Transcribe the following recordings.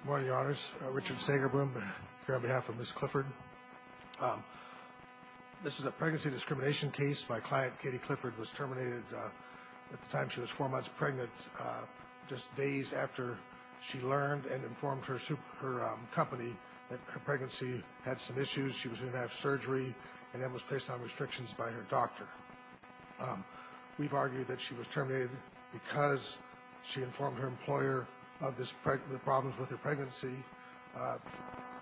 Good morning, Your Honors. Richard Sagerboom here on behalf of Ms. Clifford. This is a pregnancy discrimination case. My client, Katie Clifford, was terminated at the time she was four months pregnant, just days after she learned and informed her company that her pregnancy had some issues. She was in and out of surgery and then was placed on restrictions by her doctor. We've argued that she was terminated because she informed her employer of the problems with her pregnancy.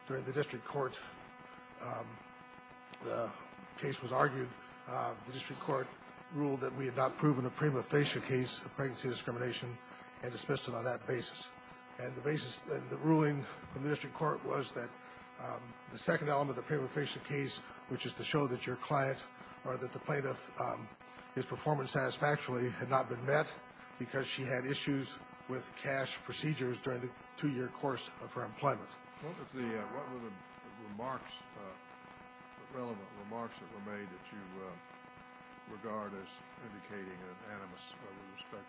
During the district court, the case was argued. The district court ruled that we had not proven a prima facie case of pregnancy discrimination and dismissed it on that basis. And the ruling from the district court was that the second element of the prima facie case, which is to show that your client or that the plaintiff is performing satisfactorily, had not been met because she had issues with cash procedures during the two-year course of her employment. What were the relevant remarks that were made that you regard as indicating an animus with respect to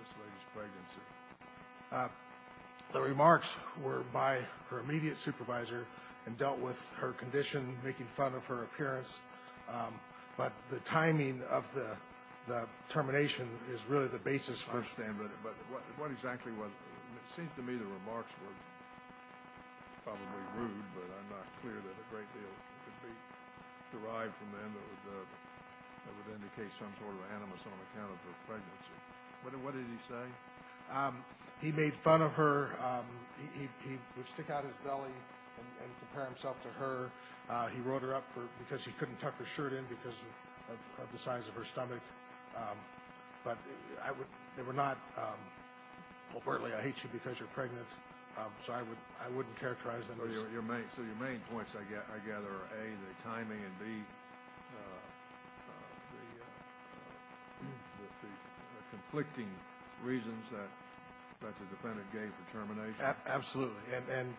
this lady's pregnancy? The remarks were by her immediate supervisor and dealt with her condition, making fun of her appearance. But the timing of the termination is really the basis for it. I understand, but what exactly was it? It seems to me the remarks were probably rude, but I'm not clear that a great deal could be derived from them that would indicate some sort of animus on account of her pregnancy. What did he say? He made fun of her. He would stick out his belly and compare himself to her. He wrote her up because he couldn't tuck her shirt in because of the size of her stomach. But they were not overtly, I hate you because you're pregnant. So I wouldn't characterize them as— So your main points, I gather, are A, the timing, and B, the conflicting reasons that the defendant gave for termination. Absolutely. And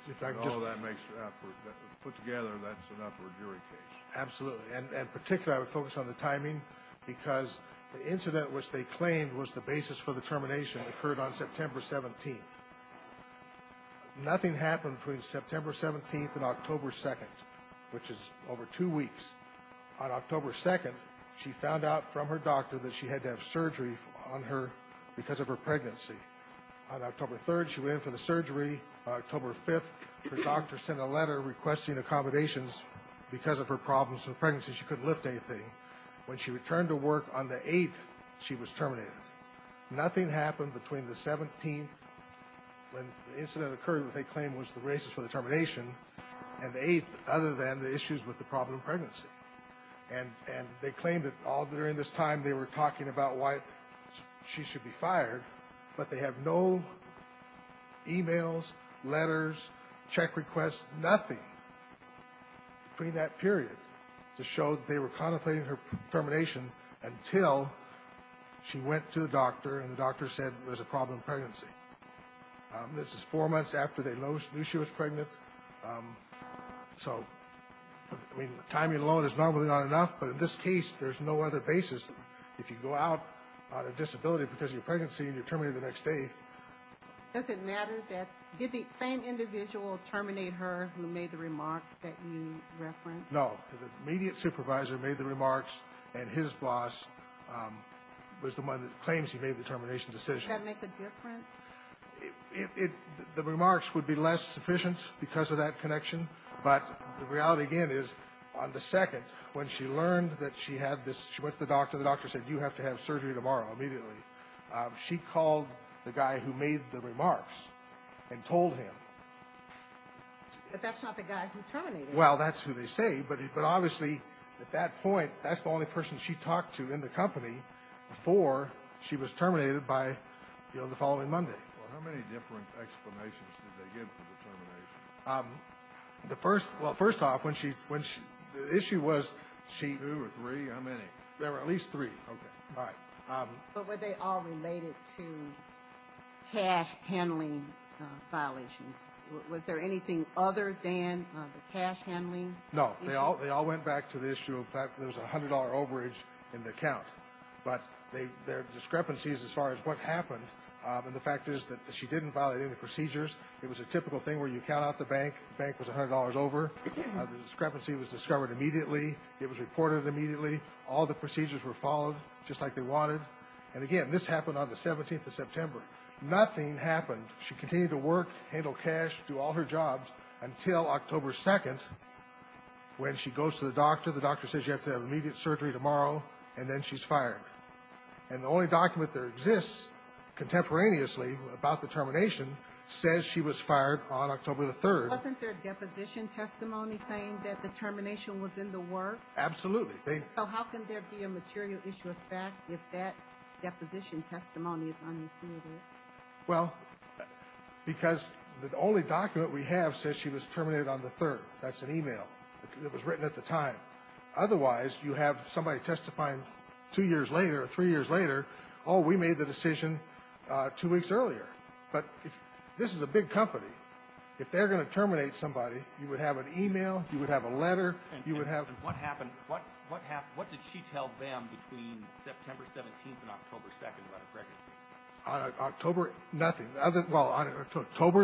all that makes—put together, that's enough for a jury case. Absolutely. And particularly I would focus on the timing because the incident which they claimed was the basis for the termination occurred on September 17th. Nothing happened between September 17th and October 2nd, which is over two weeks. On October 2nd, she found out from her doctor that she had to have surgery on her because of her pregnancy. On October 3rd, she went in for the surgery. On October 5th, her doctor sent a letter requesting accommodations because of her problems with pregnancy. She couldn't lift anything. When she returned to work on the 8th, she was terminated. Nothing happened between the 17th, when the incident occurred, which they claimed was the basis for the termination, and the 8th, other than the issues with the problem of pregnancy. And they claimed that all during this time they were talking about why she should be fired, but they have no e-mails, letters, check requests, nothing, between that period, to show that they were contemplating her termination until she went to the doctor and the doctor said there's a problem with pregnancy. This is four months after they knew she was pregnant. So, I mean, timing alone is normally not enough, but in this case, there's no other basis. If you go out on a disability because of your pregnancy and you're terminated the next day. Does it matter that the same individual terminated her who made the remarks that you referenced? No. The immediate supervisor made the remarks and his boss was the one that claims he made the termination decision. Does that make a difference? The remarks would be less sufficient because of that connection, but the reality, again, is on the 2nd, when she learned that she had this, she went to the doctor, the doctor said you have to have surgery tomorrow, immediately. She called the guy who made the remarks and told him. But that's not the guy who terminated her. Well, that's who they say, but obviously at that point, that's the only person she talked to in the company before she was terminated by, you know, the following Monday. Well, how many different explanations did they give for the termination? The first, well, first off, when she, when she, the issue was she. Two or three, how many? There were at least three. Okay. All right. But were they all related to cash handling violations? Was there anything other than the cash handling? No. They all went back to the issue of there was a $100 overage in the account. But there are discrepancies as far as what happened. And the fact is that she didn't violate any procedures. It was a typical thing where you count out the bank, the bank was $100 over. The discrepancy was discovered immediately. It was reported immediately. All the procedures were followed just like they wanted. And, again, this happened on the 17th of September. Nothing happened. She continued to work, handle cash, do all her jobs until October 2nd when she goes to the doctor. The doctor says you have to have immediate surgery tomorrow, and then she's fired. And the only document that exists contemporaneously about the termination says she was fired on October the 3rd. Wasn't there a deposition testimony saying that the termination was in the works? Absolutely. So how can there be a material issue of fact if that deposition testimony is unconfirmed? Well, because the only document we have says she was terminated on the 3rd. That's an e-mail that was written at the time. Otherwise, you have somebody testifying two years later or three years later, oh, we made the decision two weeks earlier. But this is a big company. If they're going to terminate somebody, you would have an e-mail, you would have a letter. And what happened? What did she tell them between September 17th and October 2nd about her pregnancy? On October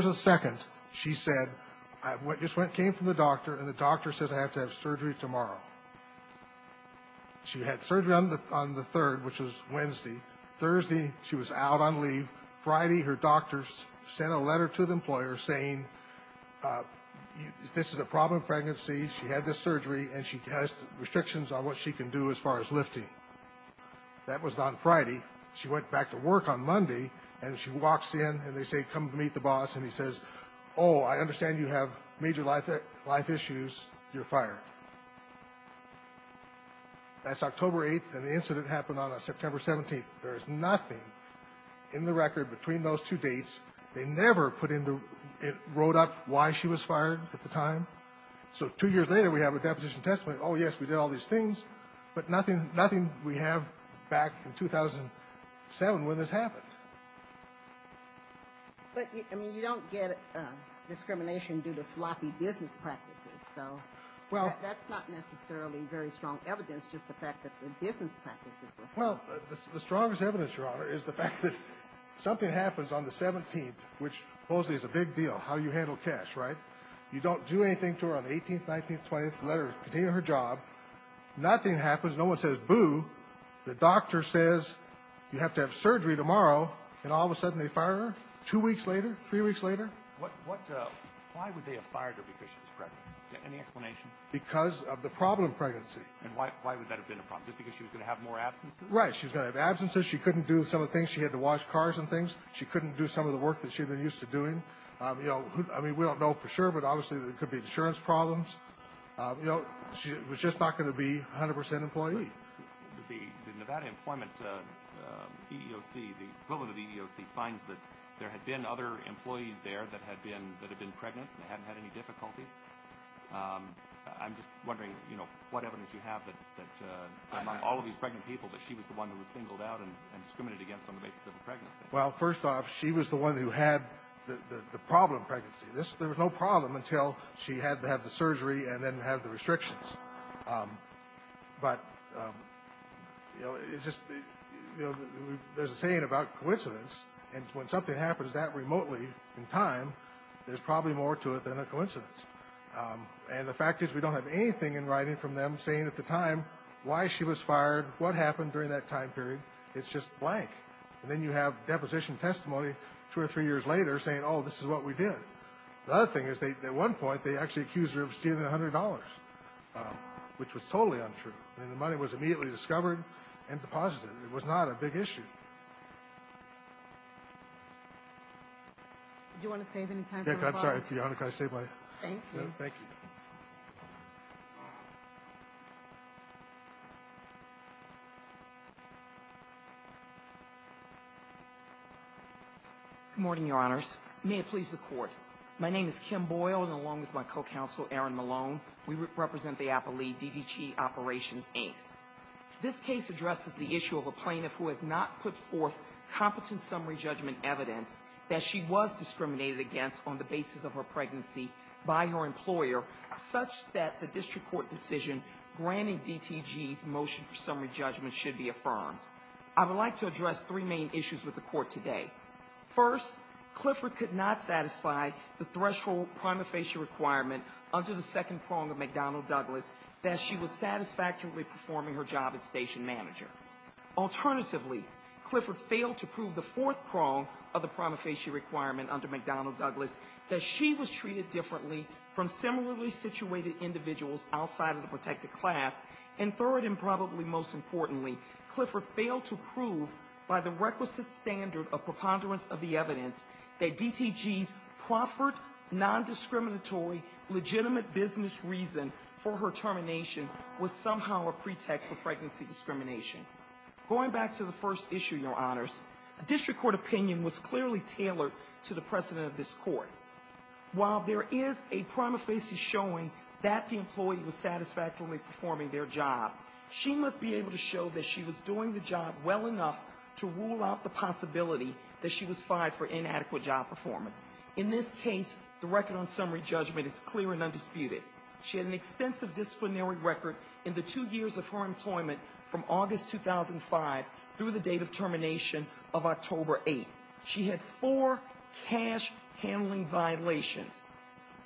2nd, she said, I just came from the doctor, and the doctor says I have to have surgery tomorrow. She had surgery on the 3rd, which was Wednesday. Thursday, she was out on leave. Friday, her doctor sent a letter to the employer saying this is a problem pregnancy, she had this surgery, and she has restrictions on what she can do as far as lifting. That was on Friday. She went back to work on Monday, and she walks in, and they say come meet the boss, and he says, oh, I understand you have major life issues. You're fired. That's October 8th, and the incident happened on September 17th. There is nothing in the record between those two dates. They never put in the road up why she was fired at the time. So two years later, we have a deposition testimony. Oh, yes, we did all these things, but nothing we have back in 2007 when this happened. But, I mean, you don't get discrimination due to sloppy business practices. So that's not necessarily very strong evidence, just the fact that the business practices were sloppy. Well, the strongest evidence, Your Honor, is the fact that something happens on the 17th, which supposedly is a big deal, how you handle cash, right? You don't do anything to her on the 18th, 19th, 20th, let her continue her job. Nothing happens. No one says boo. The doctor says you have to have surgery tomorrow, and all of a sudden they fire her two weeks later, three weeks later. Why would they have fired her because she was pregnant? Any explanation? Because of the problem of pregnancy. And why would that have been a problem? Just because she was going to have more absences? Right. She was going to have absences. She couldn't do some of the things. She had to wash cars and things. She couldn't do some of the work that she had been used to doing. You know, I mean, we don't know for sure, but obviously there could be insurance problems. You know, she was just not going to be 100 percent employee. The Nevada Employment EEOC, the equivalent of the EEOC, finds that there had been other employees there that had been pregnant and hadn't had any difficulties. I'm just wondering, you know, what evidence you have that among all of these pregnant people that she was the one who was singled out and discriminated against on the basis of a pregnancy. Well, first off, she was the one who had the problem of pregnancy. There was no problem until she had to have the surgery and then have the restrictions. But, you know, there's a saying about coincidence, and when something happens that remotely in time, there's probably more to it than a coincidence. And the fact is we don't have anything in writing from them saying at the time why she was fired, what happened during that time period. It's just blank. And then you have deposition testimony two or three years later saying, oh, this is what we did. The other thing is at one point they actually accused her of stealing $100, which was totally untrue. And the money was immediately discovered and deposited. It was not a big issue. Do you want to save any time for a follow-up? Yeah, I'm sorry. Your Honor, can I save my time? Thank you. Thank you. Good morning, Your Honors. May it please the Court. My name is Kim Boyle, and along with my co-counsel, Aaron Malone, we represent the appellee DDG Operations, Inc. This case addresses the issue of a plaintiff who has not put forth competent summary judgment evidence that she was discriminated against on the basis of her pregnancy by her employer such that the district court decision granting DTG's motion for summary judgment should be affirmed. I would like to address three main issues with the Court today. First, Clifford could not satisfy the threshold prima facie requirement under the second prong of McDonnell Douglas that she was satisfactorily performing her job as station manager. Alternatively, Clifford failed to prove the fourth prong of the prima facie requirement under McDonnell Douglas that she was treated differently from similarly situated individuals outside of the protected class. And third and probably most importantly, Clifford failed to prove by the requisite standard of preponderance of the evidence that DTG's proffered, non-discriminatory, legitimate business reason for her termination was somehow a pretext for pregnancy discrimination. Going back to the first issue, your honors, the district court opinion was clearly tailored to the precedent of this court. While there is a prima facie showing that the employee was satisfactorily performing their job, she must be able to show that she was doing the job well enough to rule out the possibility that she was fired for inadequate job performance. In this case, the record on summary judgment is clear and undisputed. She had an extensive disciplinary record in the two years of her employment from August 2005 through the date of termination of October 8. She had four cash handling violations.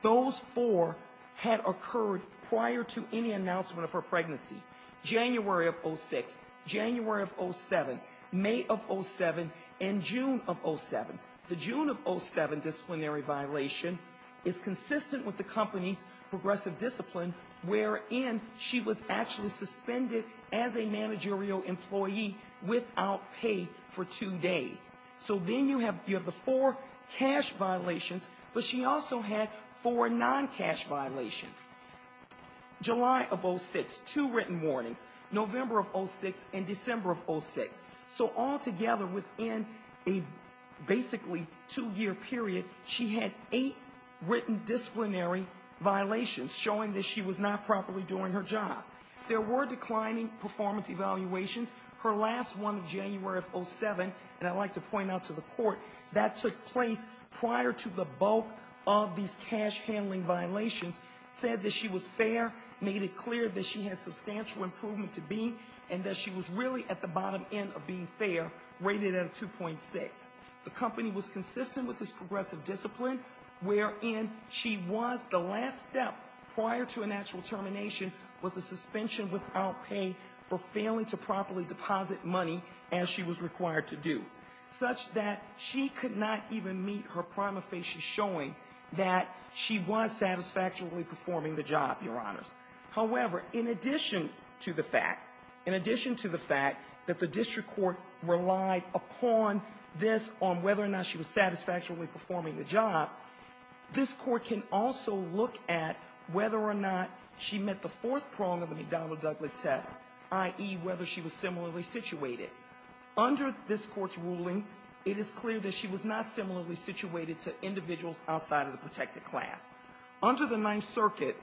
Those four had occurred prior to any announcement of her pregnancy. January of 06, January of 07, May of 07, and June of 07. The June of 07 disciplinary violation is consistent with the company's progressive discipline, wherein she was actually suspended as a managerial employee without pay for two days. So then you have the four cash violations, but she also had four non-cash violations. July of 06, two written warnings, November of 06, and December of 06. So all together, within a basically two-year period, she had eight written disciplinary violations showing that she was not properly doing her job. There were declining performance evaluations. Her last one, January of 07, and I'd like to point out to the court, that took place prior to the bulk of these cash handling violations, said that she was fair, made it clear that she had substantial improvement to be, and that she was really at the bottom end of being fair, rated at a 2.6. The company was consistent with this progressive discipline, wherein she was, the last step prior to a natural termination, was a suspension without pay for failing to properly deposit money as she was required to do, such that she could not even meet her prima facie showing that she was satisfactorily performing the job, Your Honors. However, in addition to the fact, in addition to the fact that the district court relied upon this on whether or not she was satisfactorily performing the job, this Court can also look at whether or not she met the fourth prong of the McDonnell-Douglas test, i.e., whether she was similarly situated. Under this Court's ruling, it is clear that she was not similarly situated to individuals outside of the protected class. Under the Ninth Circuit,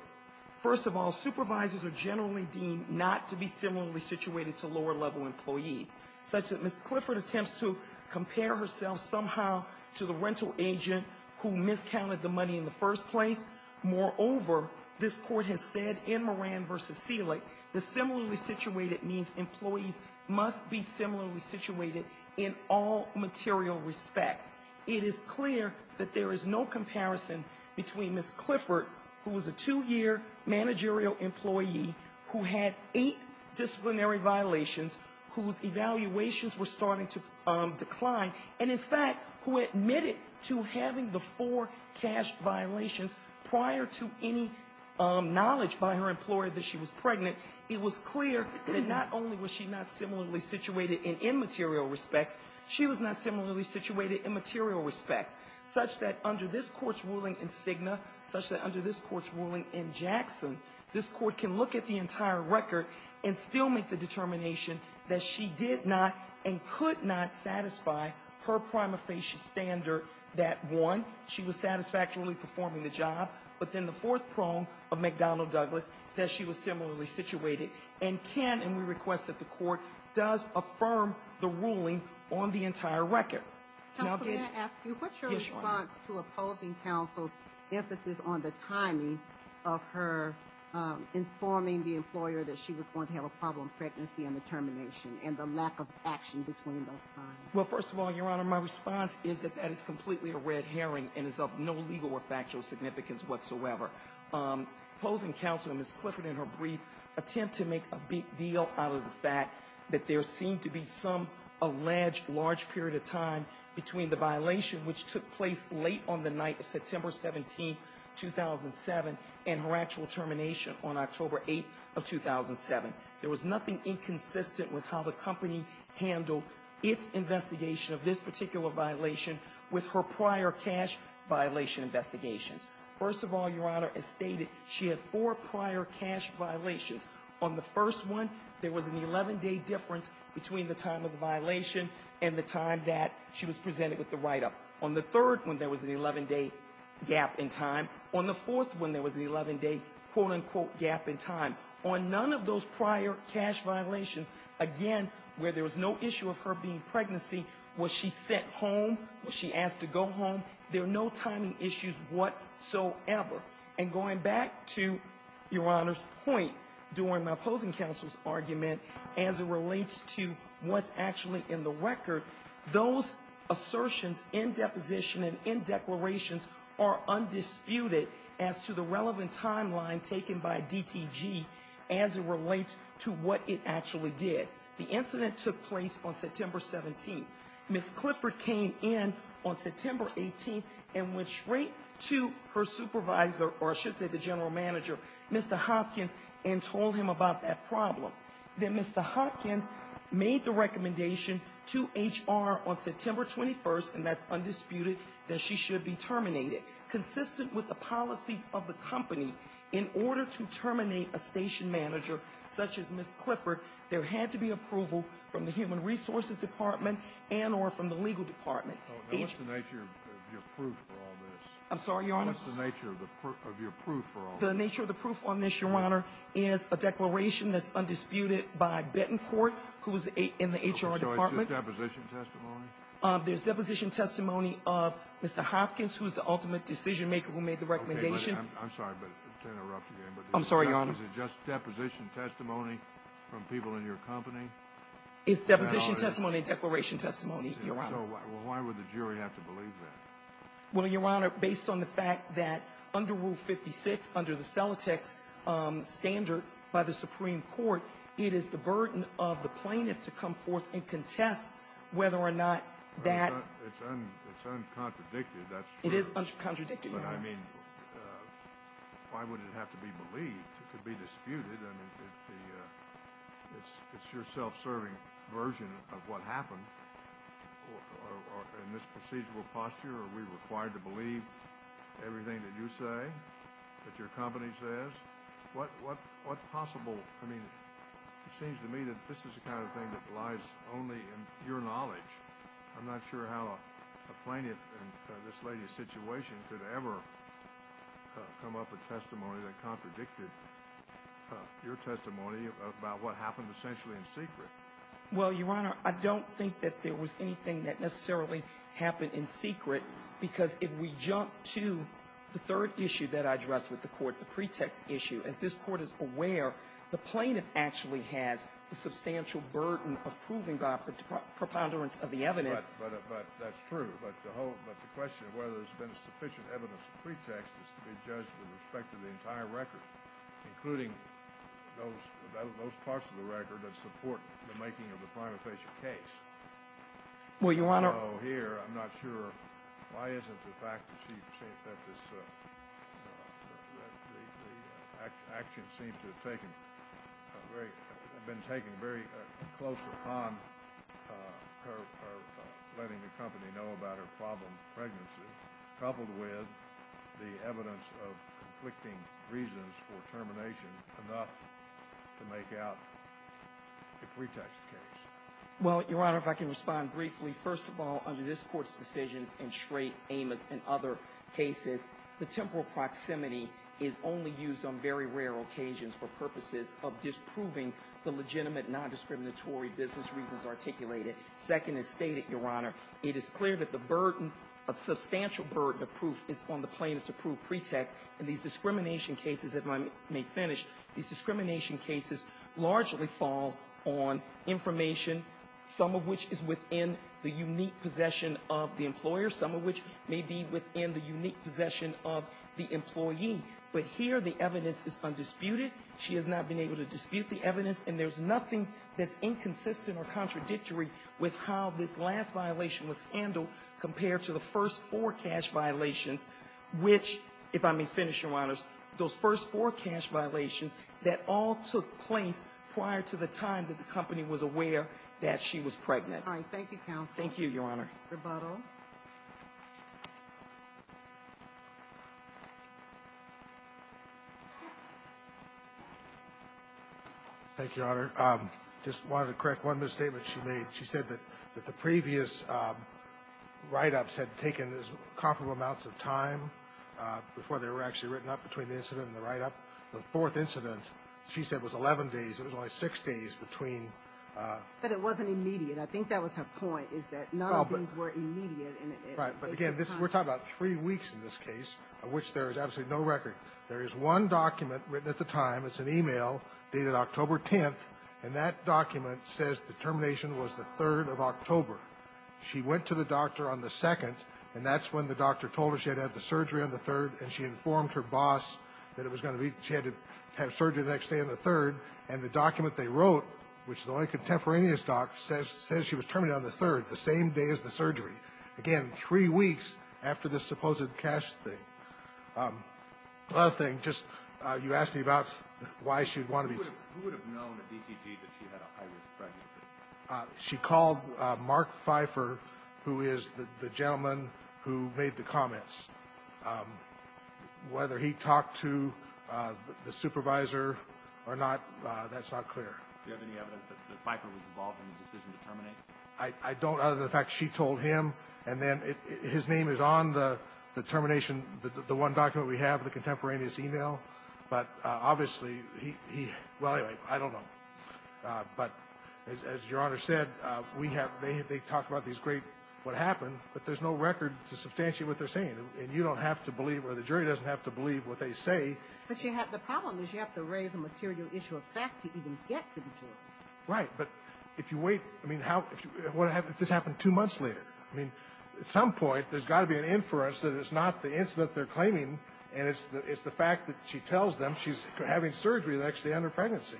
first of all, supervisors are generally deemed not to be similarly situated to lower-level employees, such that Ms. Clifford attempts to compare herself somehow to the rental agent who miscounted the money in the first place. Moreover, this Court has said in Moran v. Selig that similarly situated means employees must be similarly situated in all material respects. It is clear that there is no comparison between Ms. Clifford, who was a two-year managerial employee, who had eight disciplinary violations whose evaluations were starting to decline, and, in fact, who admitted to having the four cash violations prior to any knowledge by her employer that she was pregnant. It was clear that not only was she not similarly situated in immaterial respects, she was not similarly situated in material respects, such that under this Court's ruling in Cigna, such that under this Court's ruling in Jackson, this Court can look at the entire record and still make the determination that she did not and could not satisfy her prima facie standard that, one, she was satisfactorily performing the job, but then the fourth prong of McDonnell-Douglas, that she was similarly situated, and can, and we request that the Court does affirm the ruling on the entire record. Counsel, may I ask you, what's your response to opposing counsel's emphasis on the timing of her informing the employer that she was going to have a problem pregnancy and the termination and the lack of action between those times? Well, first of all, Your Honor, my response is that that is completely a red herring and is of no legal or factual significance whatsoever. Opposing counsel and Ms. Clifford in her brief attempt to make a big deal out of the fact that there seemed to be some alleged large period of time between the violation, which took place late on the night of September 17, 2007, and her actual termination on October 8 of 2007. There was nothing inconsistent with how the company handled its investigation of this particular violation with her prior cash violation investigations. First of all, Your Honor, as stated, she had four prior cash violations. On the first one, there was an 11-day difference between the time of the violation and the time that she was presented with the write-up. On the third one, there was an 11-day gap in time. On the fourth one, there was an 11-day quote-unquote gap in time. On none of those prior cash violations, again, where there was no issue of her being pregnancy, was she sent home, was she asked to go home? There are no timing issues whatsoever. And going back to Your Honor's point during my opposing counsel's argument as it relates to what's actually in the record, those assertions in deposition and in declarations are undisputed as to the relevant timeline taken by DTG as it relates to what it actually did. The incident took place on September 17. Ms. Clifford came in on September 18 and went straight to her supervisor, or I should say the general manager, Mr. Hopkins, and told him about that problem. Then Mr. Hopkins made the recommendation to HR on September 21, and that's undisputed, that she should be terminated. Consistent with the policies of the company, in order to terminate a station manager such as Ms. Clifford, there had to be approval from the human resources department and or from the legal department. Now, what's the nature of your proof for all this? I'm sorry, Your Honor? What's the nature of your proof for all this? The nature of the proof on this, Your Honor, is a declaration that's undisputed by Betancourt, who is in the HR department. So it's just deposition testimony? There's deposition testimony of Mr. Hopkins, who is the ultimate decision-maker who made the recommendation. Okay, but I'm sorry to interrupt again. I'm sorry, Your Honor. Is it just deposition testimony from people in your company? It's deposition testimony and declaration testimony, Your Honor. So why would the jury have to believe that? Well, Your Honor, based on the fact that under Rule 56, under the Celotex standard by the Supreme Court, it is the burden of the plaintiff to come forth and contest whether or not that ---- It's uncontradicted, that's true. It is uncontradicted, Your Honor. But, I mean, why would it have to be believed? It could be disputed. I mean, it's your self-serving version of what happened. In this procedural posture, are we required to believe everything that you say, that your company says? What possible ---- I mean, it seems to me that this is the kind of thing that lies only in your knowledge. I'm not sure how a plaintiff in this lady's situation could ever come up with testimony that contradicted your testimony about what happened essentially in secret. Well, Your Honor, I don't think that there was anything that necessarily happened in secret, because if we jump to the third issue that I addressed with the Court, the pretext issue, as this Court is aware, the plaintiff actually has the substantial burden of proving the preponderance of the evidence. But that's true. But the whole ---- but the question of whether there's been sufficient evidence of pretext is to be judged with respect to the entire record, including those parts of the record that support the making of the primate patient case. Well, Your Honor ---- So here, I'm not sure why isn't the fact that this ---- the action seems to have taken very ---- been taken very close upon her letting the company know about her problem of pregnancy, coupled with the evidence of conflicting reasons for termination enough to make out a pretext case. Well, Your Honor, if I can respond briefly. First of all, under this Court's decisions in Schraight, Amos, and other cases, the temporal proximity is only used on very rare occasions for purposes of disproving the legitimate nondiscriminatory business reasons articulated. Second, as stated, Your Honor, it is clear that the burden, a substantial burden of proof is on the plaintiff to prove pretext. In these discrimination cases, if I may finish, these discrimination cases largely fall on information, some of which is within the unique possession of the employer, some of which may be within the unique possession of the employee. But here, the evidence is undisputed. She has not been able to dispute the evidence. And there's nothing that's inconsistent or contradictory with how this last violation was handled compared to the first four cash violations, which, if I may finish, Your Honors, those first four cash violations, that all took place prior to the time that the company was aware that she was pregnant. All right. Thank you, counsel. Thank you, Your Honor. Rebuttal. Thank you, Your Honor. I just wanted to correct one misstatement she made. She said that the previous write-ups had taken comparable amounts of time before they were actually written up between the incident and the write-up. The fourth incident, she said, was 11 days. It was only six days between. But it wasn't immediate. I think that was her point, is that none of these were immediate. Right. But again, we're talking about three weeks in this case, of which there is absolutely no record. There is one document written at the time. It's an e-mail dated October 10th, and that document says the termination was the 3rd of October. She went to the doctor on the 2nd, and that's when the doctor told her she had to have the surgery on the 3rd, and she informed her boss that she had to have surgery the next day on the 3rd. And the document they wrote, which is the only contemporaneous doc, says she was terminated on the 3rd, the same day as the surgery. Again, three weeks after this supposed cash thing. Another thing, just you asked me about why she would want to be ---- Who would have known at DTG that she had a high-risk pregnancy? She called Mark Pfeiffer, who is the gentleman who made the comments. Whether he talked to the supervisor or not, that's not clear. Do you have any evidence that Pfeiffer was involved in the decision to terminate? I don't, other than the fact she told him. And then his name is on the termination, the one document we have, the contemporaneous e-mail. But obviously he, well, anyway, I don't know. But as Your Honor said, we have, they talk about these great, what happened, but there's no record to substantiate what they're saying. And you don't have to believe, or the jury doesn't have to believe what they say. But you have, the problem is you have to raise a material issue of fact to even get to the jury. Right, but if you wait, I mean, how, what happens if this happened two months later? I mean, at some point, there's got to be an inference that it's not the incident they're claiming, and it's the fact that she tells them she's having surgery the next day on her pregnancy.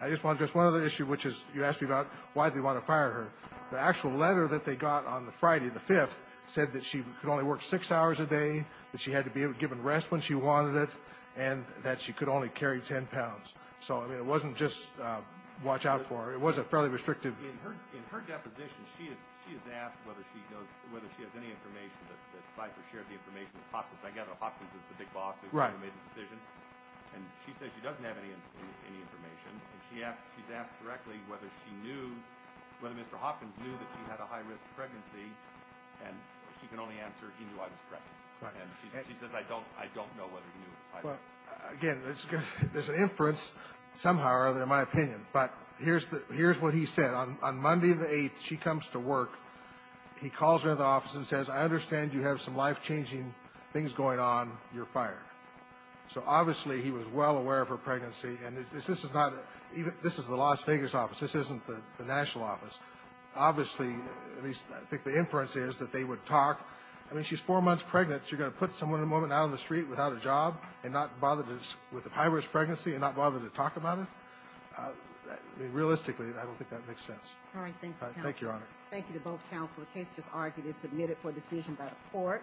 I just want to address one other issue, which is you asked me about why they want to fire her. The actual letter that they got on the Friday, the 5th, said that she could only work six hours a day, that she had to be given rest when she wanted it, and that she could only carry 10 pounds. So, I mean, it wasn't just watch out for her. It was a fairly restrictive. In her deposition, she has asked whether she knows, whether she has any information that Pfeiffer shared the information with Hopkins. I gather Hopkins is the big boss who made the decision. Right. And she says she doesn't have any information. And she's asked directly whether she knew, whether Mr. Hopkins knew that she had a high-risk pregnancy, and she can only answer, he knew I was pregnant. Right. And she says, I don't know whether he knew it was high-risk. Again, there's an inference, somehow or other, in my opinion. But here's what he said. On Monday the 8th, she comes to work. He calls her into the office and says, I understand you have some life-changing things going on. You're fired. So, obviously, he was well aware of her pregnancy. And this is the Las Vegas office. This isn't the national office. Obviously, at least I think the inference is that they would talk. I mean, she's four months pregnant. You're going to put someone in a moment out on the street without a job and not bother with a high-risk pregnancy and not bother to talk about it? Realistically, I don't think that makes sense. All right. Thank you, Counselor. Thank you, Your Honor. Thank you to both Counselors. The case is argued and submitted for decision by the court.